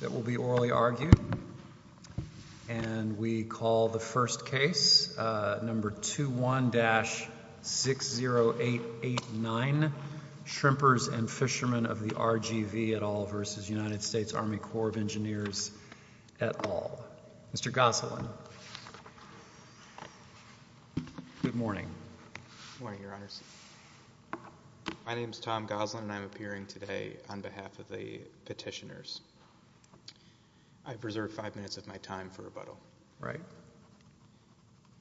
that will be orally argued, and we call the first case, number 21-60889, Shrimpers and Fishermen of the RGV, et al. v. United States Army Corps of Engineers, et al. Mr. Goselin. Good morning. Good morning, Your Honors. My name is Tom Goselin, and I'm appearing today on behalf of the petitioners. I've reserved five minutes of my time for rebuttal. Right.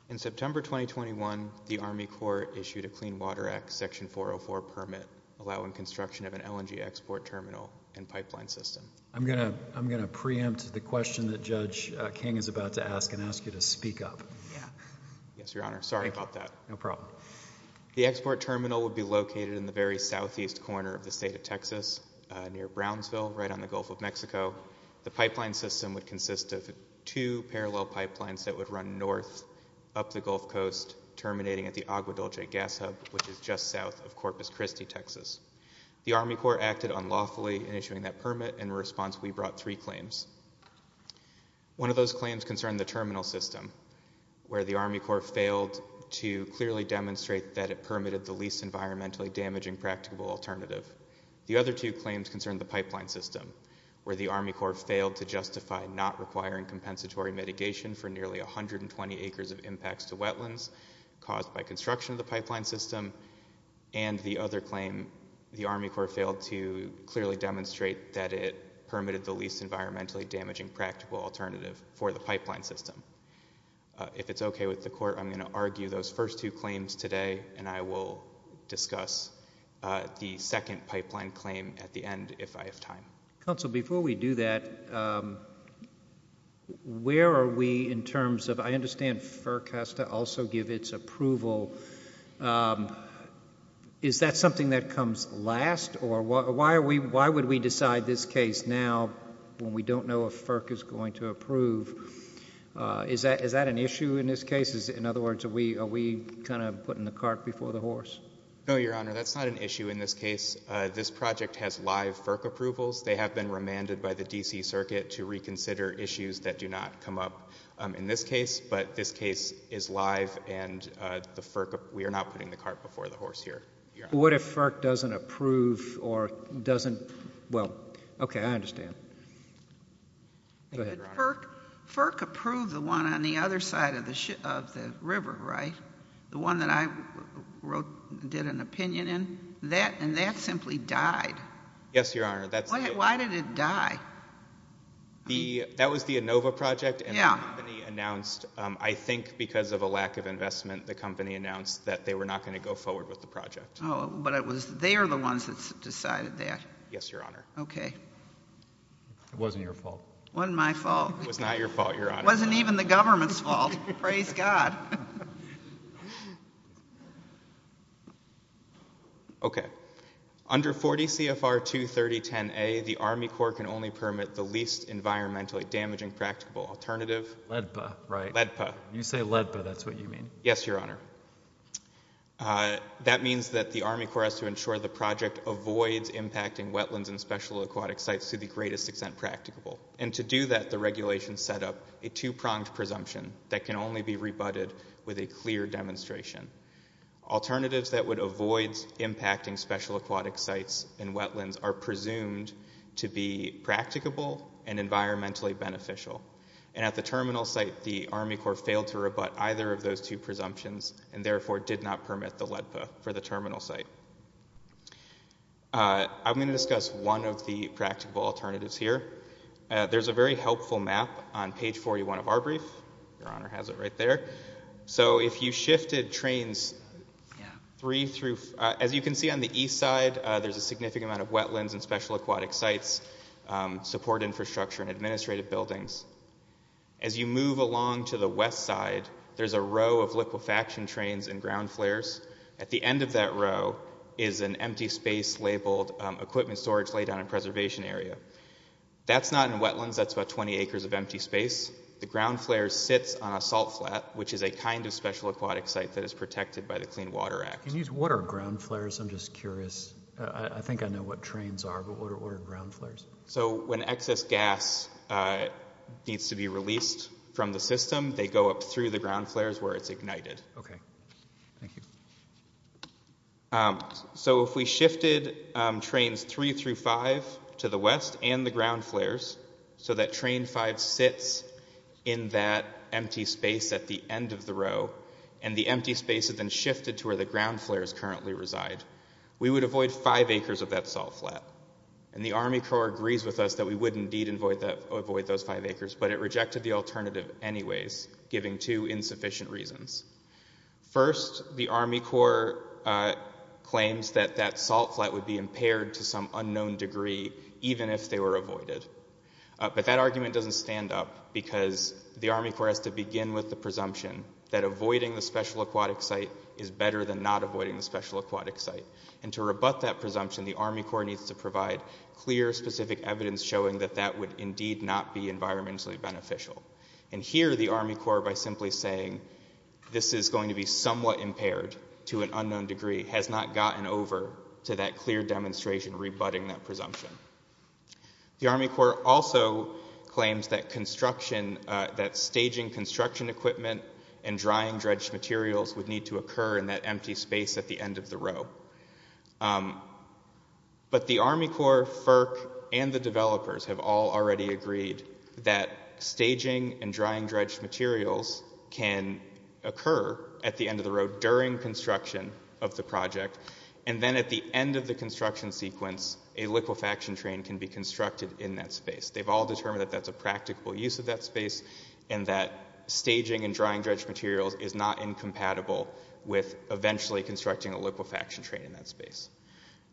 In September 2021, the Army Corps issued a Clean Water Act Section 404 permit, allowing construction of an LNG export terminal and pipeline system. I'm going to preempt the question that Judge King is about to ask and ask you to speak up. Yeah. Yes, Your Honor. Sorry about that. No problem. The export terminal would be located in the very southeast corner of the state of Texas, near Brownsville, right on the Gulf of Mexico. The pipeline system would consist of two parallel pipelines that would run north up the Gulf Coast, terminating at the Agua Dulce gas hub, which is just south of Corpus Christi, Texas. The Army Corps acted unlawfully in issuing that permit. In response, we brought three claims. One of those claims concerned the terminal system, where the Army Corps failed to clearly demonstrate that it permitted the least The other two claims concern the pipeline system, where the Army Corps failed to justify not requiring compensatory mitigation for nearly 120 acres of impacts to wetlands caused by construction of the pipeline system. And the other claim, the Army Corps failed to clearly demonstrate that it permitted the least environmentally damaging practical alternative for the pipeline system. If it's okay with the court, I'm going to argue those first two claims today, and I will discuss the second pipeline claim at the end, if I have time. Counsel, before we do that, where are we in terms of, I understand FERC has to also give its approval. Is that something that comes last, or why are we, why would we decide this case now when we don't know if FERC is going to approve? Is that an issue in this case? In other words, are we kind of putting the cart before the horse? No, Your Honor, that's not an issue in this case. This project has live FERC approvals. They have been remanded by the D.C. Circuit to reconsider issues that do not come up in this case, but this case is live, and we are not putting the cart before the horse here. What if FERC doesn't approve or doesn't, well, okay, I understand. Go ahead, Your Honor. FERC approved the one on the other side of the river, right? The one that I wrote, did an opinion in? That, and that simply died. Yes, Your Honor. Why did it die? That was the Inova project, and the company announced, I think because of a lack of investment, the company announced that they were not going to go forward with the project. Oh, but it was, they're the ones that decided that. Yes, Your Honor. Okay. It wasn't your fault. Wasn't my fault. It was not your fault, Your Honor. Wasn't even the government's fault. Praise God. Okay. Under 40 CFR 23010A, the Army Corps can only permit the least environmentally damaging practicable alternative. LEDPA, right? LEDPA. You say LEDPA, that's what you mean? Yes, Your Honor. That means that the Army Corps has to ensure the project avoids impacting wetlands and special aquatic sites to the greatest extent practicable. And to do that, the regulation set up a two-pronged presumption that can only be rebutted with a clear demonstration. Alternatives that would avoid impacting special aquatic sites and wetlands are presumed to be practicable and environmentally beneficial. And at the terminal site, the Army Corps failed to rebut either of those two presumptions and therefore did not permit the LEDPA for the terminal site. I'm going to discuss one of the practical alternatives here. There's a very helpful map on page 41 of our brief. Your Honor has it right there. So if you shifted trains three through, as you can see on the east side, there's a significant amount of wetlands and special aquatic sites, support infrastructure and administrative buildings. As you move along to the west side, there's a row of liquefaction trains and ground flares. At the end of that row is an empty space labeled equipment storage lay down and preservation area. That's not in wetlands. That's about 20 acres of empty space. The ground flare sits on a salt flat, which is a kind of special aquatic site that is protected by the Clean Water Act. Can you just, what are ground flares? I'm just curious. I think I know what trains are, but what are ground flares? So when excess gas needs to be released from the system, they go up through the ground flares where it's ignited. Okay, thank you. So if we shifted trains three through five to the west and the ground flares, so that train five sits in that empty space at the end of the row, and the empty space is then shifted to where the ground flares currently reside, we would avoid five acres of that salt flat. And the Army Corps agrees with us that we would indeed avoid those five acres, but it rejected the alternative anyways, giving two insufficient reasons. First, the Army Corps claims that that salt flat would be impaired to some unknown degree even if they were avoided. But that argument doesn't stand up because the Army Corps has to begin with the presumption that avoiding the special aquatic site is better than not avoiding the special aquatic site. And to rebut that presumption, the Army Corps needs to provide clear, specific evidence showing that that would indeed not be environmentally beneficial. And here the Army Corps, by simply saying this is going to be somewhat impaired to an unknown degree, has not gotten over to that clear demonstration rebutting that presumption. The Army Corps also claims that staging construction equipment and drying dredged materials would need to occur in that empty space at the end of the row. But the Army Corps, FERC, and the developers have all already agreed that staging and drying dredged materials can occur at the end of the row during construction of the project. And then at the end of the construction sequence, a liquefaction train can be constructed in that space. They've all determined that that's a practical use of that space and that staging and drying dredged materials is not incompatible with eventually constructing a liquefaction train in that space.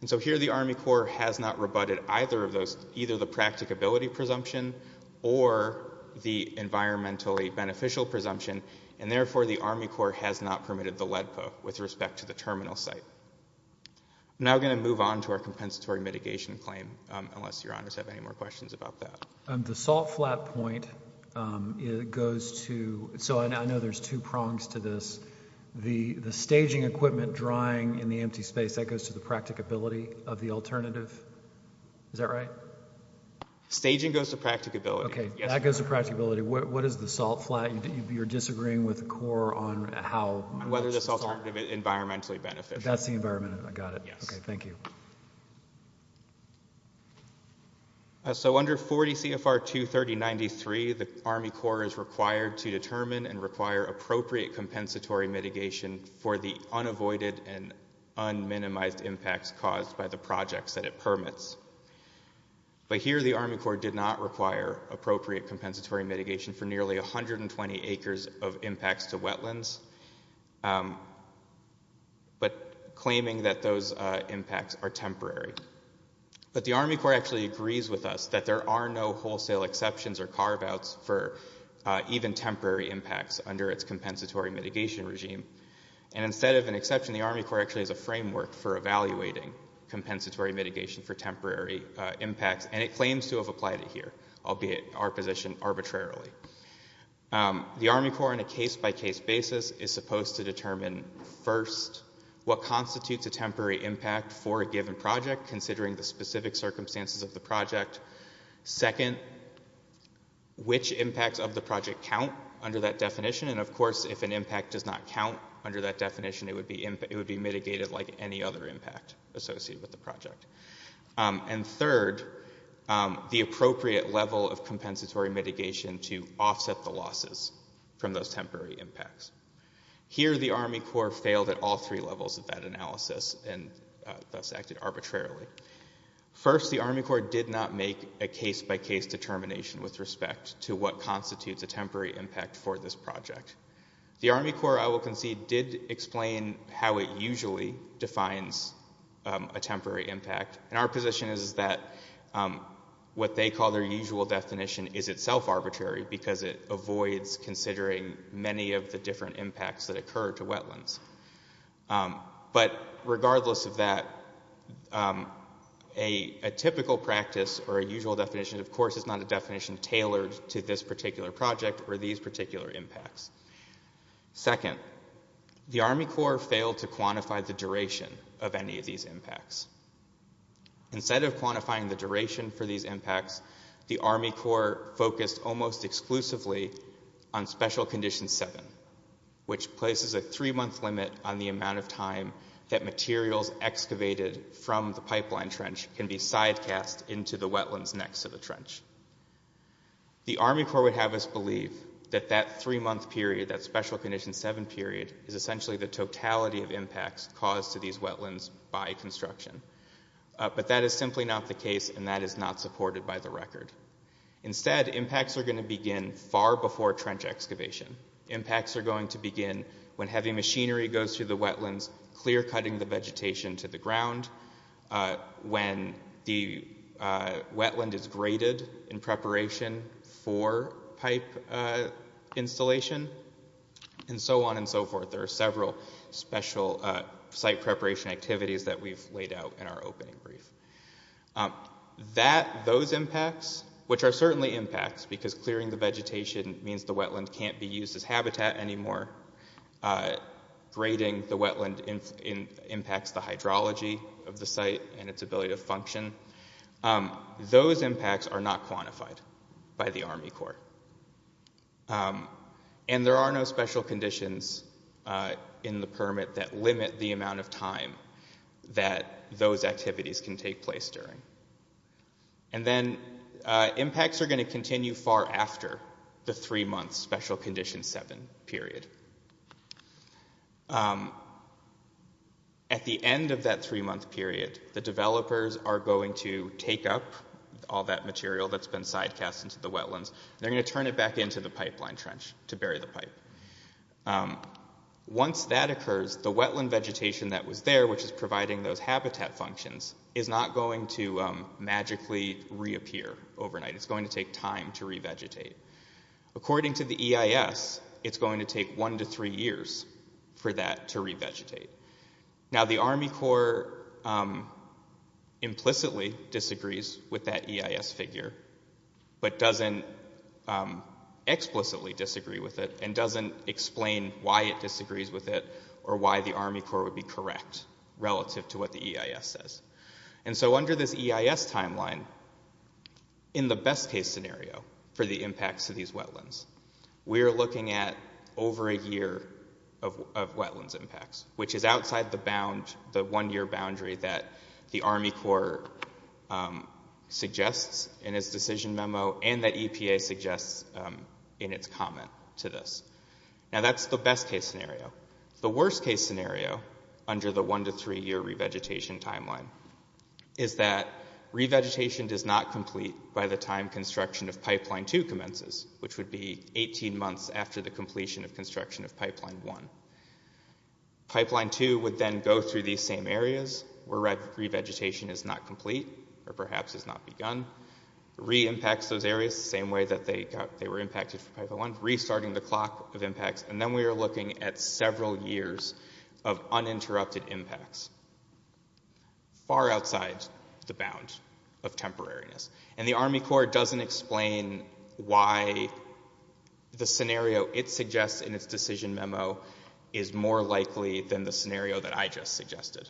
And so here the Army Corps has not rebutted either of those, either the practicability presumption or the environmentally beneficial presumption. And therefore, the Army Corps has not permitted the LEDPA with respect to the terminal site. I'm now going to move on to our compensatory mitigation claim, unless your honors have any more questions about that. The salt flat point, it goes to, so I know there's two prongs to this. The staging equipment drying in the empty space, that goes to the practicability of the alternative. Is that right? Staging goes to practicability. Okay, that goes to practicability. What is the salt flat? You're disagreeing with the Corps on how... Whether this alternative is environmentally beneficial. That's the environmental, I got it. Yes. Okay, thank you. So under 40 CFR 23093, the Army Corps is required to determine and require appropriate compensatory mitigation for the unavoided and un-minimized impacts caused by the projects that it permits. But here the Army Corps did not require appropriate compensatory mitigation for nearly 120 acres of impacts to wetlands. But claiming that those impacts are temporary. But the Army Corps actually agrees with us that there are no wholesale exceptions or carve-outs for even temporary impacts under its compensatory mitigation regime. And instead of an exception, the Army Corps actually has a framework for evaluating compensatory mitigation for temporary impacts. And it claims to have applied it here, albeit our position arbitrarily. The Army Corps, on a case-by-case basis, is supposed to determine, first, what constitutes a temporary impact for a given project, considering the specific circumstances of the project. Second, which impacts of the project count under that definition. And of course, if an impact does not count under that definition, it would be mitigated like any other impact associated with the project. And third, the appropriate level of compensatory mitigation to offset the losses from those temporary impacts. Here the Army Corps failed at all three levels of that analysis and thus acted arbitrarily. First, the Army Corps did not make a case-by-case determination with respect to what constitutes a temporary impact for this project. The Army Corps, I will concede, did explain how it usually defines a temporary impact. And our position is that what they call their usual definition is itself arbitrary because it avoids considering many of the different impacts that occur to wetlands. But regardless of that, a typical practice or a usual definition, of course, is not a definition tailored to this particular project or these particular impacts. Second, the Army Corps failed to quantify the duration of any of these impacts. Instead of quantifying the duration for these impacts, the Army Corps focused almost exclusively on Special Condition 7, which places a three-month limit on the amount of time that materials excavated from the pipeline trench can be side-cast into the wetlands next to the trench. The Army Corps would have us believe that that three-month period, that Special Condition 7 period, is essentially the totality of impacts caused to these wetlands by construction. But that is simply not the case and that is not supported by the record. Instead, impacts are going to begin far before trench excavation. Impacts are going to begin when heavy machinery goes through the wetlands, clear-cutting the in preparation for pipe installation, and so on and so forth. There are several special site preparation activities that we've laid out in our opening brief. Those impacts, which are certainly impacts because clearing the vegetation means the wetland can't be used as habitat anymore, grading the wetland impacts the hydrology of the site and its ability to function. Those impacts are not quantified by the Army Corps. And there are no special conditions in the permit that limit the amount of time that those activities can take place during. And then impacts are going to continue far after the three-month Special Condition 7 period. At the end of that three-month period, the developers are going to take up all that material that's been side-cast into the wetlands. They're going to turn it back into the pipeline trench to bury the pipe. Once that occurs, the wetland vegetation that was there, which is providing those habitat functions, is not going to magically reappear overnight. It's going to take time to revegetate. According to the EIS, it's going to take one to three years for that to revegetate. Now, the Army Corps implicitly disagrees with that EIS figure, but doesn't explicitly disagree with it and doesn't explain why it disagrees with it or why the Army Corps would be correct relative to what the EIS says. And so under this EIS timeline, in the best-case scenario for the impacts of these wetlands, we're looking at over a year of wetlands impacts, which is outside the one-year boundary that the Army Corps suggests in its decision memo and that EPA suggests in its comment to this. Now, that's the best-case scenario. The worst-case scenario under the one-to-three-year revegetation timeline is that revegetation does not complete by the time construction of Pipeline 2 commences, which would be 18 months after the completion of construction of Pipeline 1. Pipeline 2 would then go through these same areas where revegetation is not complete or perhaps has not begun, reimpacts those areas the same way that they were impacted for Pipeline 2. So we're looking at several years of uninterrupted impacts far outside the bounds of temporariness. And the Army Corps doesn't explain why the scenario it suggests in its decision memo is more likely than the scenario that I just suggested.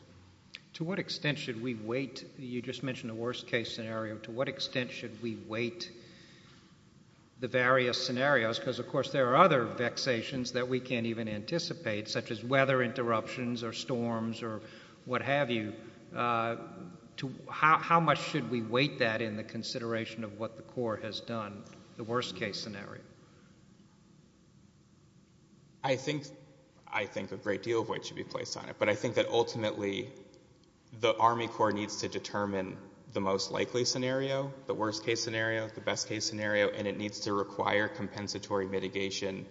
To what extent should we wait? You just mentioned the worst-case scenario. To what extent should we wait the various scenarios? Because, of course, there are other vexations that we can't even anticipate, such as weather interruptions or storms or what have you. How much should we wait that in the consideration of what the Corps has done, the worst-case scenario? I think a great deal of weight should be placed on it. But I think that, ultimately, the Army Corps needs to determine the most likely scenario, the worst-case scenario, the best-case scenario. And it needs to require compensatory mitigation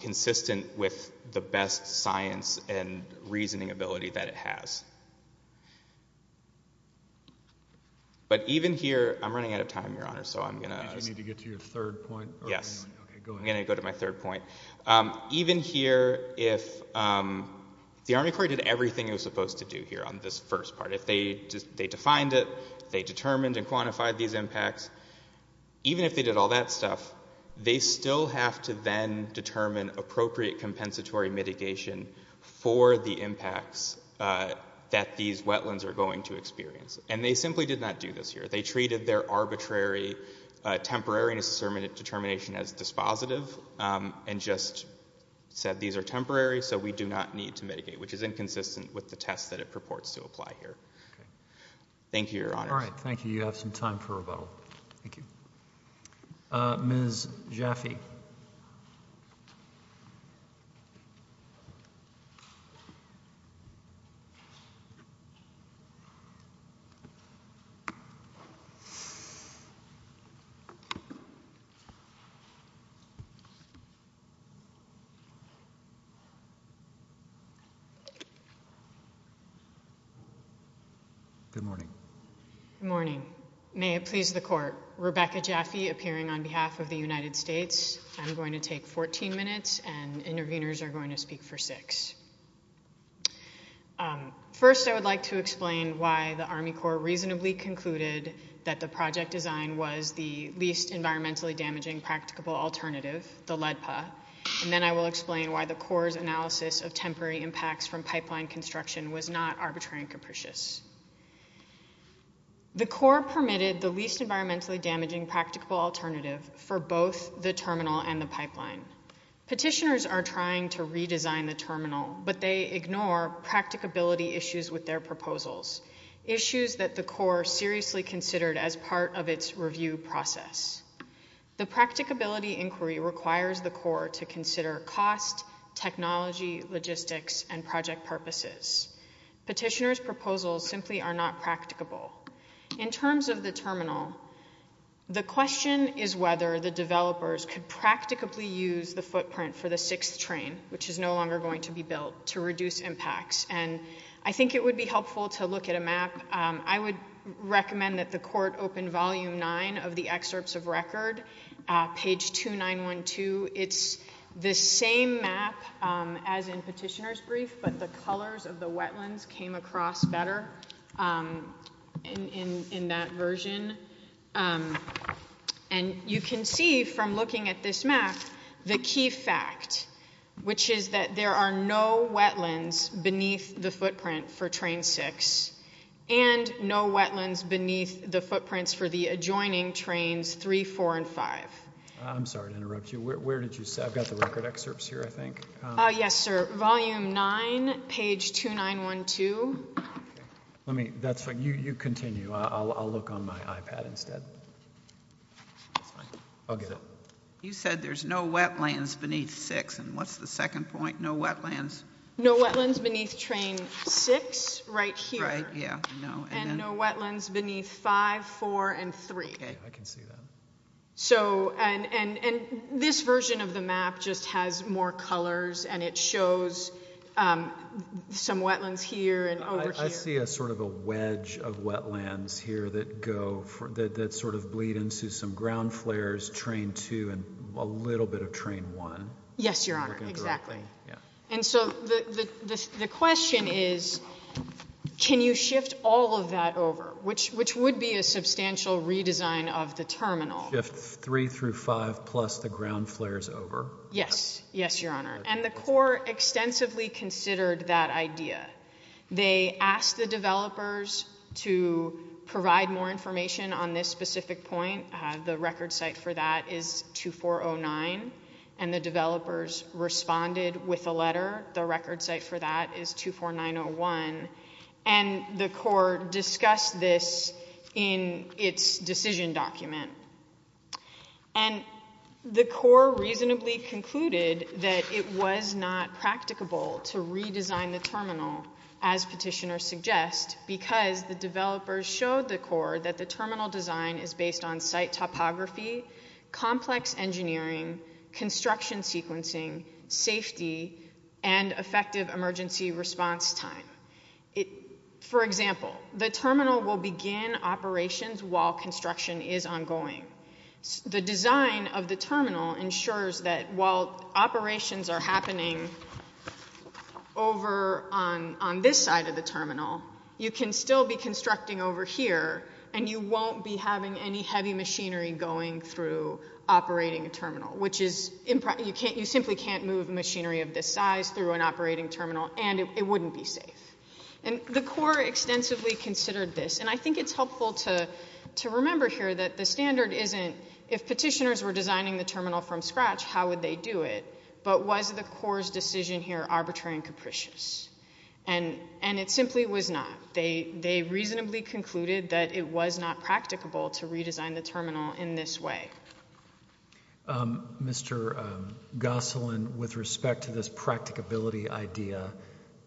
consistent with the best science and reasoning ability that it has. But even here, I'm running out of time, Your Honor. So I'm going to- Did you need to get to your third point? Yes. OK, go ahead. I'm going to go to my third point. Even here, if the Army Corps did everything it was supposed to do here on this first part, they defined it, they determined and quantified these impacts, even if they did all that stuff, they still have to then determine appropriate compensatory mitigation for the impacts that these wetlands are going to experience. And they simply did not do this here. They treated their arbitrary, temporary determination as dispositive and just said, these are temporary, so we do not need to mitigate, which is inconsistent with the test that it purports to apply here. Thank you, Your Honor. All right. Thank you. You have some time for rebuttal. Thank you. Ms. Jaffe. Good morning. Good morning. May it please the Court. Rebecca Jaffe, appearing on behalf of the United States. I'm going to take 14 minutes and interveners are going to speak for six. First, I would like to explain why the Army Corps reasonably concluded that the project design was the least environmentally damaging practicable alternative, the LEDPA. And then I will explain why the Corps' analysis of temporary impacts from pipeline construction was not arbitrary and capricious. The Corps permitted the least environmentally damaging practicable alternative for both the terminal and the pipeline. Petitioners are trying to redesign the terminal, but they ignore practicability issues with their proposals, issues that the Corps seriously considered as part of its review process. The practicability inquiry requires the Corps to consider cost, technology, logistics, and project purposes. Petitioners' proposals simply are not practicable. In terms of the terminal, the question is whether the developers could practicably use the footprint for the sixth train, which is no longer going to be built, to reduce impacts. And I think it would be helpful to look at a map. I would recommend that the Court open volume nine of the excerpts of record, page 2912. It's the same map as in Petitioner's brief, but the colors of the wetlands came across better in that version. And you can see from looking at this map the key fact, which is that there are no wetlands beneath the footprint for train six and no wetlands beneath the footprints for the adjoining trains three, four, and five. I'm sorry to interrupt you. Where did you say? I've got the record excerpts here, I think. Yes, sir. Volume nine, page 2912. Let me, that's fine. You continue. I'll look on my iPad instead. I'll get it. You said there's no wetlands beneath six. And what's the second point? No wetlands. No wetlands beneath train six, right here. Right, yeah, no. And no wetlands beneath five, four, and three. Okay, I can see that. So, and this version of the map just has more colors and it shows some wetlands here and over here. I see a sort of a wedge of wetlands here that go, that sort of bleed into some ground flares, train two, and a little bit of train one. Yes, Your Honor, exactly. And so the question is, can you shift all of that over, which would be a substantial redesign of the terminal? Shift three through five plus the ground flares over. Yes. Yes, Your Honor. And the court extensively considered that idea. They asked the developers to provide more information on this specific point. The record site for that is 2409, and the developers responded with a letter. The record site for that is 24901. And the court discussed this in its decision document. And the court reasonably concluded that it was not practicable to redesign the terminal, as petitioners suggest, because the developers showed the court that the terminal design is based on site topography, complex engineering, construction sequencing, safety, and effective emergency response time. It, for example, the terminal will begin operations while construction is ongoing. The design of the terminal ensures that while operations are happening over on this side of the terminal, you can still be constructing over here, and you won't be having any heavy machinery going through operating a terminal, which is, you simply can't move machinery of this size through an operating terminal, and it wouldn't be safe. And the court extensively considered this. And I think it's helpful to remember here that the standard isn't, if petitioners were designing the terminal from scratch, how would they do it? But was the court's decision here arbitrary and capricious? And it simply was not. They reasonably concluded that it was not practicable to redesign the terminal in this way. Mr. Gosselin, with respect to this practicability idea,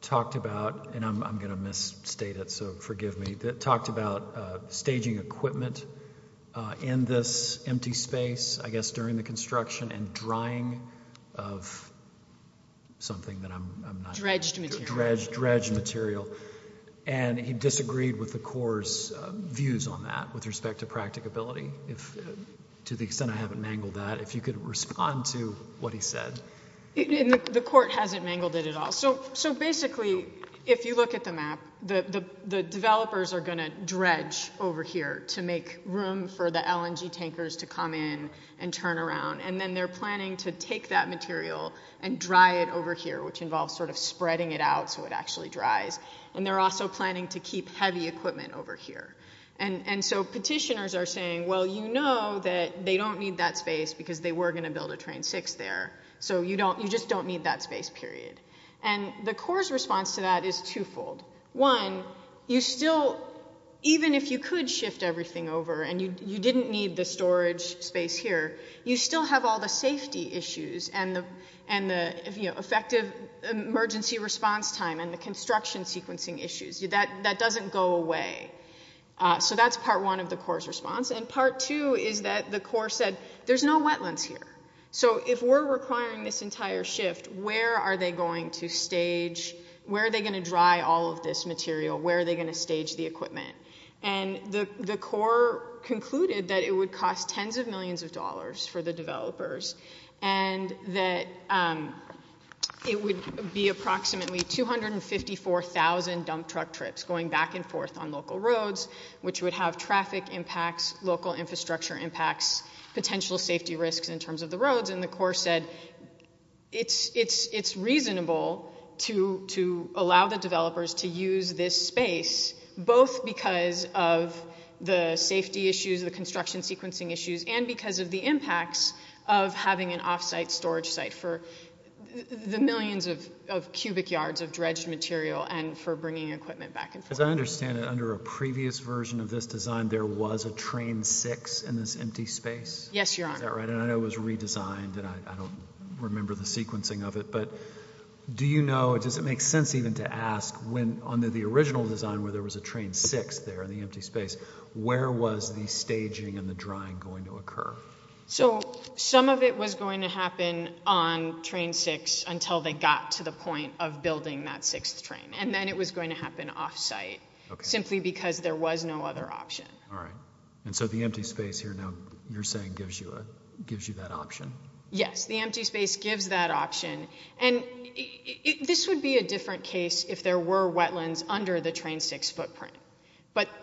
talked about, and I'm going to misstate it, so forgive me, talked about staging equipment in this empty space, I guess, during the construction and drying of something that I'm not- Dredged material. Dredged material. And he disagreed with the court's views on that, with respect to practicability, to the extent I haven't mangled that. If you could respond to what he said. The court hasn't mangled it at all. So basically, if you look at the map, the developers are going to dredge over here to make room for the LNG tankers to come in and turn around, and then they're planning to take that material and dry it over here, which involves sort of spreading it out so it actually dries. And they're also planning to keep heavy equipment over here. And so petitioners are saying, well, you know that they don't need that space because they were going to build a train six there, so you just don't need that space, period. And the court's response to that is twofold. One, you still, even if you could shift everything over and you didn't need the storage space here, you still have all the safety issues and the effective emergency response time and the construction sequencing issues. That doesn't go away. So that's part one of the court's response. And part two is that the court said, there's no wetlands here. So if we're requiring this entire shift, where are they going to stage, where are they going to dry all of this material? Where are they going to stage the equipment? And the court concluded that it would cost tens of millions of dollars for the developers and that it would be approximately 254,000 dump truck trips going back and forth on local which would have traffic impacts, local infrastructure impacts, potential safety risks in terms of the roads. And the court said it's reasonable to allow the developers to use this space both because of the safety issues, the construction sequencing issues, and because of the impacts of having an off-site storage site for the millions of cubic yards of dredged material and for bringing equipment back and forth. As I understand it, under a previous version of this design, there was a train six in this empty space? Yes, Your Honor. Is that right? And I know it was redesigned and I don't remember the sequencing of it. But do you know, does it make sense even to ask when under the original design where there was a train six there in the empty space, where was the staging and the drying going to occur? So some of it was going to happen on train six until they got to the point of building that sixth train. And then it was going to happen off-site simply because there was no other option. All right. And so the empty space here now you're saying gives you that option? Yes. The empty space gives that option. And this would be a different case if there were wetlands under the train six footprint.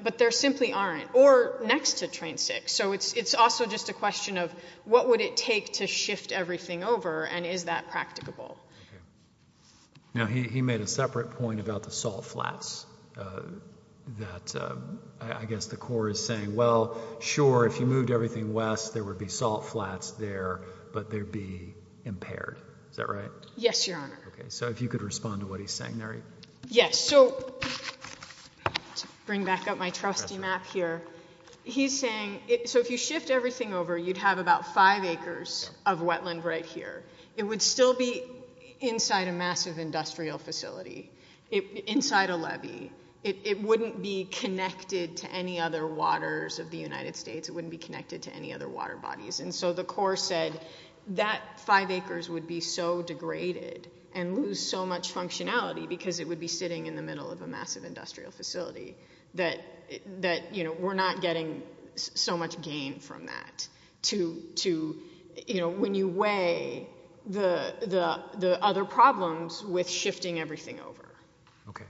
But there simply aren't. Or next to train six. So it's also just a question of what would it take to shift everything over and is that practicable? Okay. Now, he made a separate point about the salt flats that I guess the Corps is saying, well, sure, if you moved everything west, there would be salt flats there, but they'd be impaired. Is that right? Yes, Your Honor. Okay. So if you could respond to what he's saying there. Yes. So bring back up my trusty map here. He's saying, so if you shift everything over, you'd have about five acres of wetland right here. It would still be inside a massive industrial facility, inside a levee. It wouldn't be connected to any other waters of the United States. It wouldn't be connected to any other water bodies. And so the Corps said that five acres would be so degraded and lose so much functionality because it would be sitting in the middle of a massive industrial facility that we're not getting so much gain from that. To, you know, when you weigh the other problems with shifting everything over. Okay.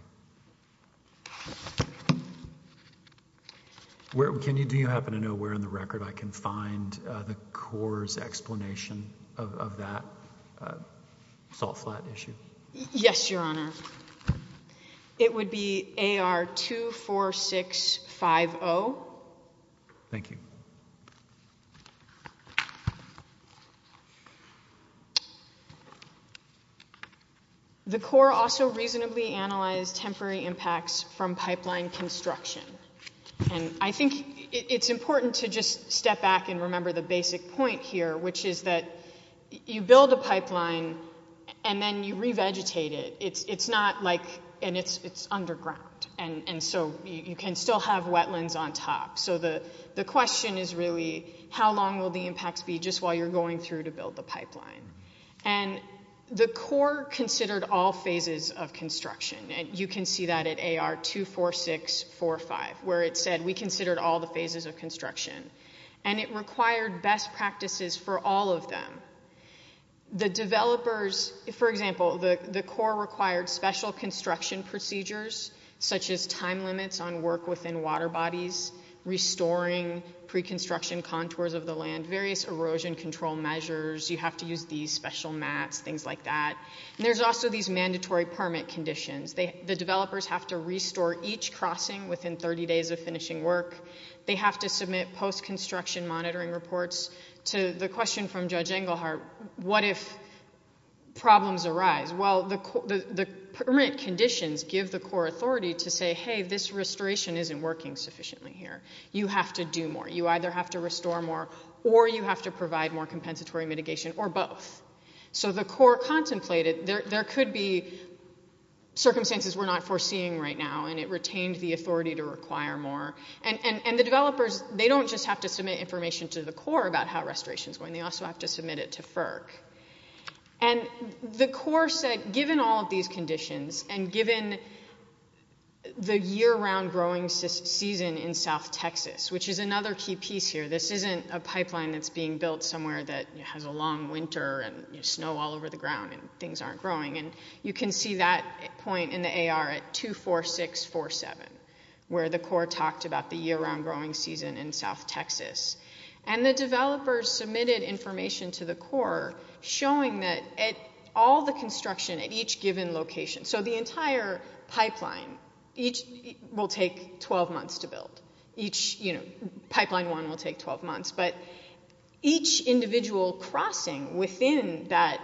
Can you, do you happen to know where in the record I can find the Corps' explanation of that salt flat issue? Yes, Your Honor. It would be AR 24650. Thank you. Okay. The Corps also reasonably analyzed temporary impacts from pipeline construction. And I think it's important to just step back and remember the basic point here, which is that you build a pipeline and then you revegetate it. It's not like, and it's underground. And so you can still have wetlands on top. So the question is really how long will the impacts be just while you're going through to build the pipeline? And the Corps considered all phases of construction. And you can see that at AR 24645, where it said we considered all the phases of construction. And it required best practices for all of them. The developers, for example, the Corps required special construction procedures, such as time restoring, pre-construction contours of the land, various erosion control measures. You have to use these special mats, things like that. And there's also these mandatory permit conditions. The developers have to restore each crossing within 30 days of finishing work. They have to submit post-construction monitoring reports to the question from Judge Engelhardt, what if problems arise? Well, the permit conditions give the Corps authority to say, hey, this restoration isn't working sufficiently here. You have to do more. You either have to restore more or you have to provide more compensatory mitigation or both. So the Corps contemplated there could be circumstances we're not foreseeing right now. And it retained the authority to require more. And the developers, they don't just have to submit information to the Corps about how restoration is going. They also have to submit it to FERC. And the Corps said given all of these conditions and given the year-round growing season in South Texas, which is another key piece here, this isn't a pipeline that's being built somewhere that has a long winter and snow all over the ground and things aren't growing. And you can see that point in the AR at 24647, where the Corps talked about the year-round growing season in South Texas. And the developers submitted information to the Corps showing that all the construction at each given location, so the entire pipeline, each will take 12 months to build. Each, you know, pipeline one will take 12 months. But each individual crossing within that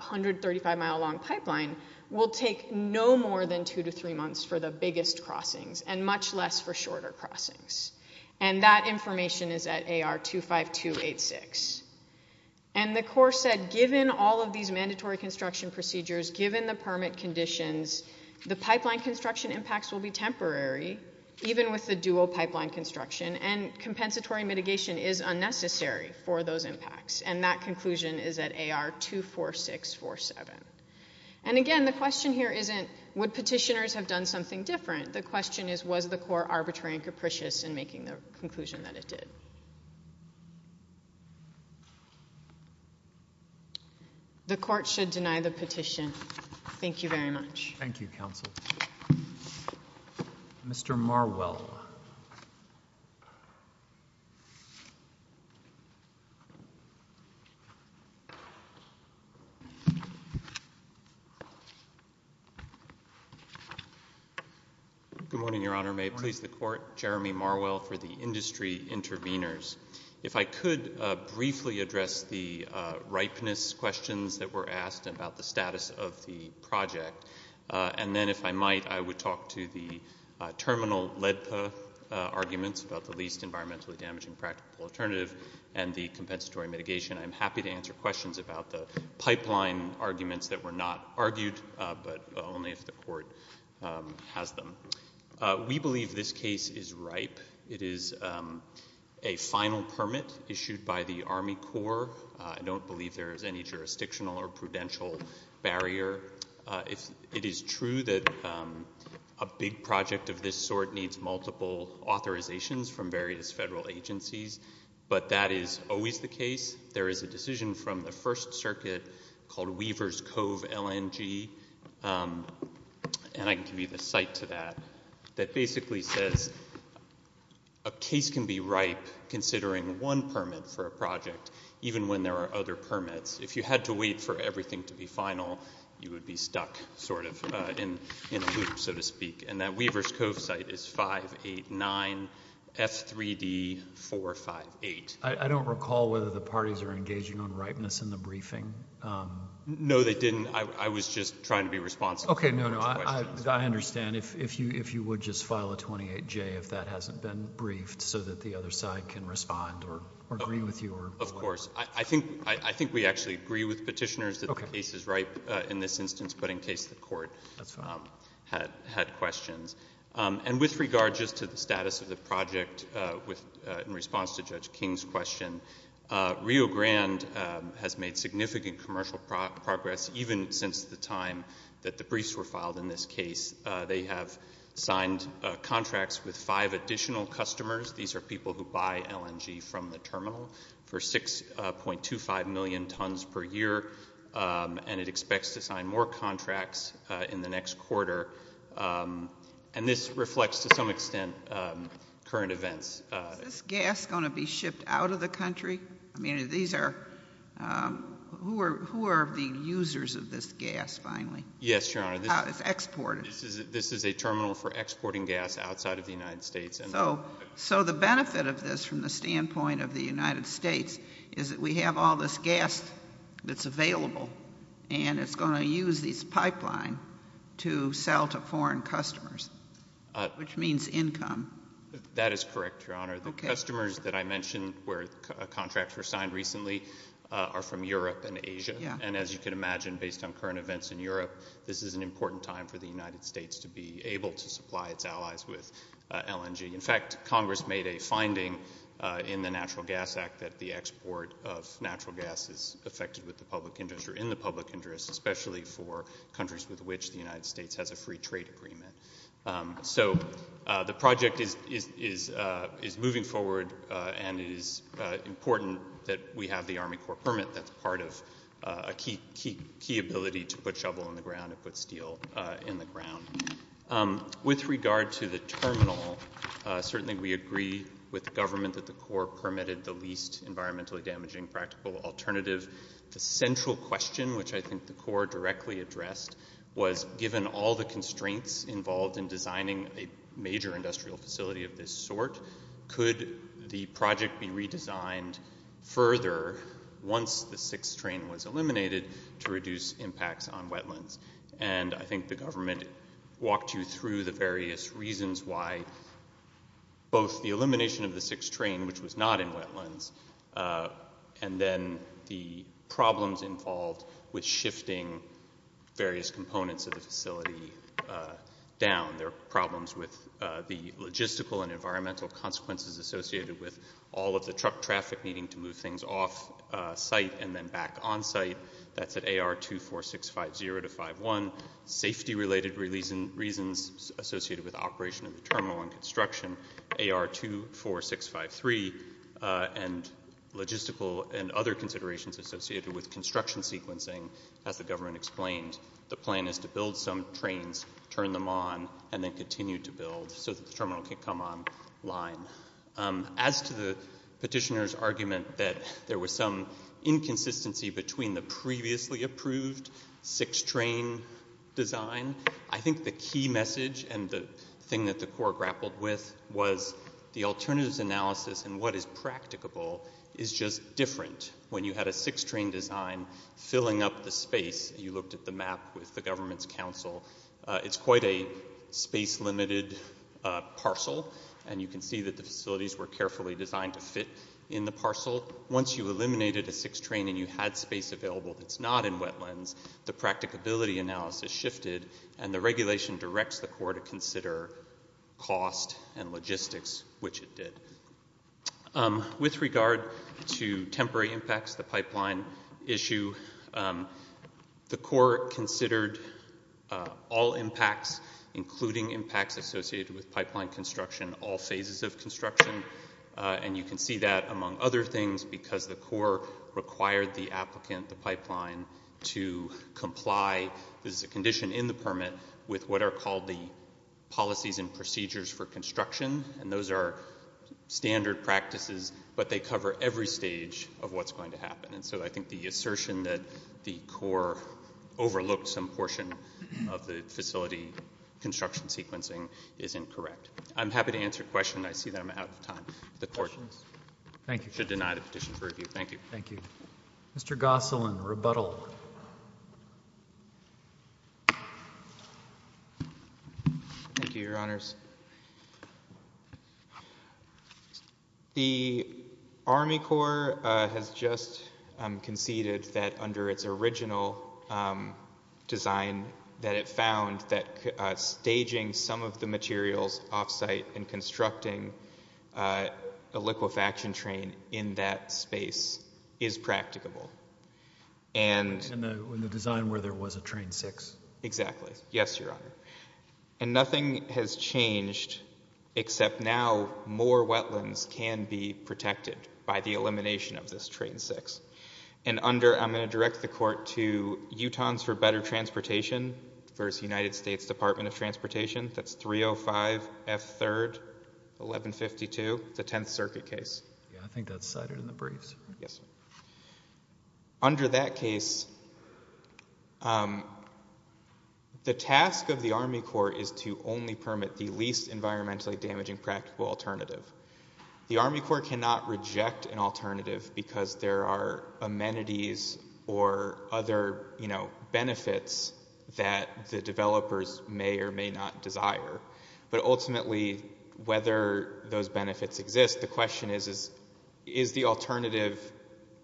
135-mile long pipeline will take no more than two to three months for the biggest crossings and much less for shorter crossings. And that information is at AR 25286. And the Corps said given all of these mandatory construction procedures, given the permit conditions, the pipeline construction impacts will be temporary, even with the dual pipeline construction, and compensatory mitigation is unnecessary for those impacts. And that conclusion is at AR 24647. And again, the question here isn't would petitioners have done something different? The question is was the Corps arbitrary and capricious in making the conclusion that it did? The Court should deny the petition. Thank you very much. Thank you, Counsel. Mr. Marwell. Good morning, Your Honor. May it please the Court? Jeremy Marwell for the Industry Intervenors. If I could briefly address the ripeness questions that were asked about the status of the project. And then if I might, I would talk to the terminal LEDPA arguments about the least environmentally damaging practical alternative and the compensatory mitigation. I'm happy to answer questions about the pipeline arguments that were not argued, but only if the Court has them. We believe this case is ripe. It is a final permit issued by the Army Corps. I don't believe there is any jurisdictional or prudential barrier. It is true that a big project of this sort needs multiple authorizations from various federal agencies, but that is always the case. There is a decision from the First Circuit called Weaver's Cove LNG, and I can give you a cite to that, that basically says a case can be ripe considering one permit for a project, even when there are other permits. If you had to wait for everything to be final, you would be stuck sort of in a loop, so to speak. And that Weaver's Cove cite is 589 F3D458. I don't recall whether the parties are engaging on ripeness in the briefing. No, they didn't. I was just trying to be responsible. Okay, no, no, I understand. If you would just file a 28J if that hasn't been briefed so that the other side can respond or agree with you or whatever. Of course. I think we actually agree with Petitioners that the case is ripe in this instance, but in case the Court had questions. And with regard just to the status of the project in response to Judge King's question, Rio Grande has made significant commercial progress, even since the time that the briefs were filed in this case. They have signed contracts with five additional customers. These are people who buy LNG from the terminal for 6.25 million tons per year, and it expects to sign more contracts in the next quarter. And this reflects, to some extent, current events. Is this gas going to be shipped out of the country? I mean, who are the users of this gas, finally? Yes, Your Honor. It's exported. This is a terminal for exporting gas outside of the United States. So the benefit of this from the standpoint of the United States is that we have all this gas that's available, and it's going to use this pipeline to sell to foreign customers, which means income. That is correct, Your Honor. The customers that I mentioned where contracts were signed recently are from Europe and Asia. And as you can imagine, based on current events in Europe, this is an important time for the United States to be able to supply its allies with LNG. In fact, Congress made a finding in the Natural Gas Act that the export of natural gas is affected with the public interest or in the public interest, especially for countries with which the United States has a free trade agreement. So the project is moving forward, and it is important that we have the Army Corps permit that's part of a key ability to put shovel in the ground and put steel in the ground. With regard to the terminal, certainly we agree with the government that the Corps permitted the least environmentally damaging practical alternative. The central question, which I think the Corps directly addressed, was given all the constraints involved in designing a major industrial facility of this sort, could the project be redesigned further once the sixth train was eliminated to reduce impacts on wetlands? And I think the government walked you through the various reasons why both the elimination of the sixth train, which was not in wetlands, and then the problems involved with shifting various components of the facility down. There are problems with the logistical and environmental consequences associated with all of the truck traffic needing to move things off site and then back on site. That's at AR24650-51, safety-related reasons associated with operation of the terminal and construction, AR24653, and logistical and other considerations associated with construction and sequencing. As the government explained, the plan is to build some trains, turn them on, and then continue to build so that the terminal can come online. As to the petitioner's argument that there was some inconsistency between the previously approved sixth train design, I think the key message and the thing that the Corps grappled with was the alternatives analysis and what is practicable is just different when you had a sixth train design filling up the space. You looked at the map with the government's council. It's quite a space-limited parcel, and you can see that the facilities were carefully designed to fit in the parcel. Once you eliminated a sixth train and you had space available that's not in wetlands, the practicability analysis shifted, and the regulation directs the Corps to consider cost and logistics, which it did. With regard to temporary impacts, the pipeline issue, the Corps considered all impacts, including impacts associated with pipeline construction, all phases of construction, and you can see that, among other things, because the Corps required the applicant, the pipeline, to comply as a condition in the permit with what are called the policies and procedures for construction, and those are standard practices, but they cover every stage of what's going to happen. And so I think the assertion that the Corps overlooked some portion of the facility construction sequencing is incorrect. I'm happy to answer questions. I see that I'm out of time. The Court should deny the petition for review. Thank you. Thank you. Mr. Gosselin, rebuttal. Thank you, Your Honors. The Army Corps has just conceded that under its original design that it found that staging some of the materials off-site and constructing a liquefaction train in that space is practicable. In the design where there was a train six. Exactly. Yes, Your Honor. And nothing has changed except now more wetlands can be protected by the elimination of this train six. And under, I'm going to direct the Court to Utahns for Better Transportation v. United States Department of Transportation. That's 305F3-1152, the Tenth Circuit case. Yeah, I think that's cited in the briefs. Yes. Under that case, the task of the Army Corps is to only permit the least environmentally damaging practical alternative. The Army Corps cannot reject an alternative because there are amenities or other, you know, benefits that the developers may or may not desire. But ultimately, whether those benefits exist, the question is, is the alternative,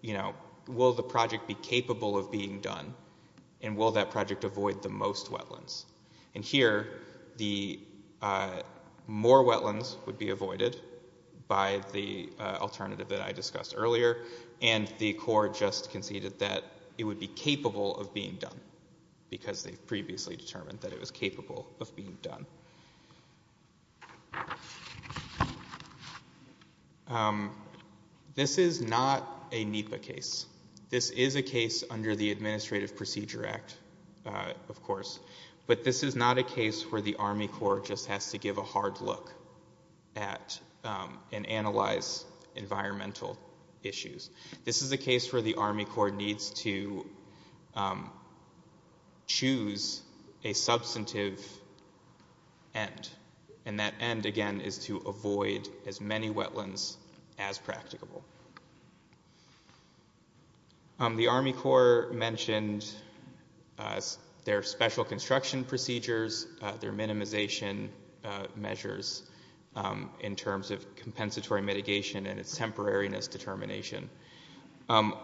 you know, will the project be capable of being done and will that project avoid the most wetlands? And here, the more wetlands would be avoided by the alternative that I discussed earlier and the Corps just conceded that it would be capable of being done because they've previously determined that it was capable of being done. Um, this is not a NEPA case. This is a case under the Administrative Procedure Act, of course. But this is not a case where the Army Corps just has to give a hard look at and analyze environmental issues. This is a case where the Army Corps needs to choose a substantive end and that end, again, is to avoid as many wetlands as practicable. The Army Corps mentioned their special construction procedures, their minimization measures in terms of compensatory mitigation and its temporariness determination. Um,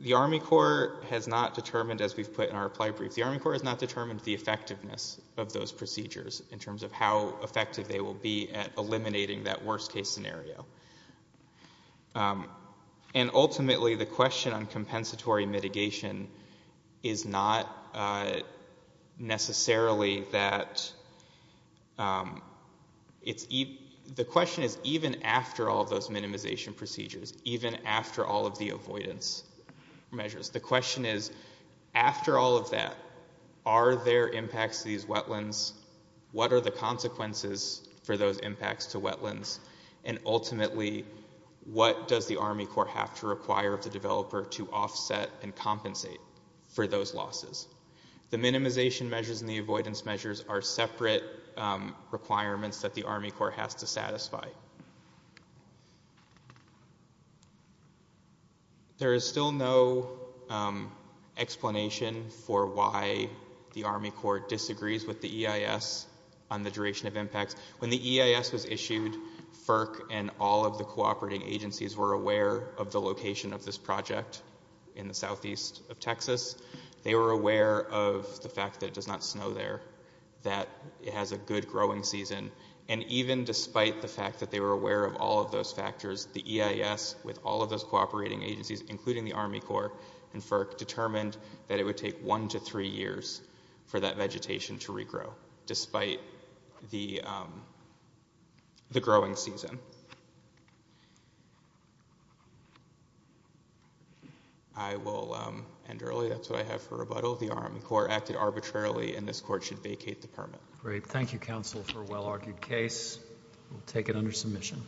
the Army Corps has not determined, as we've put in our reply brief, the Army Corps has not determined the effectiveness of those procedures in terms of how effective they will be at eliminating that worst-case scenario. Um, and ultimately, the question on compensatory mitigation is not, uh, necessarily that, um, the question is even after all of those minimization procedures, even after all of the avoidance measures, the question is, after all of that, are there impacts to these wetlands? What are the consequences for those impacts to wetlands? And ultimately, what does the Army Corps have to require of the developer to offset and compensate for those losses? The minimization measures and the avoidance measures are separate, um, requirements that the Army Corps has to satisfy. There is still no, um, explanation for why the Army Corps disagrees with the EIS on the duration of impacts. When the EIS was issued, FERC and all of the cooperating agencies were aware of the location of this project in the southeast of Texas. They were aware of the fact that it does not snow there, that it has a good growing season, and even despite the fact that they were aware of all of those factors, the EIS, with all of those cooperating agencies, including the Army Corps and FERC, determined that it would take one to three years for that vegetation to regrow, despite the, um, the growing season. I will, um, end early. That's what I have for rebuttal. The Army Corps acted arbitrarily, and this Court should vacate the permit. Great. Thank you, Counsel, for a well-argued case. We'll take it under submission.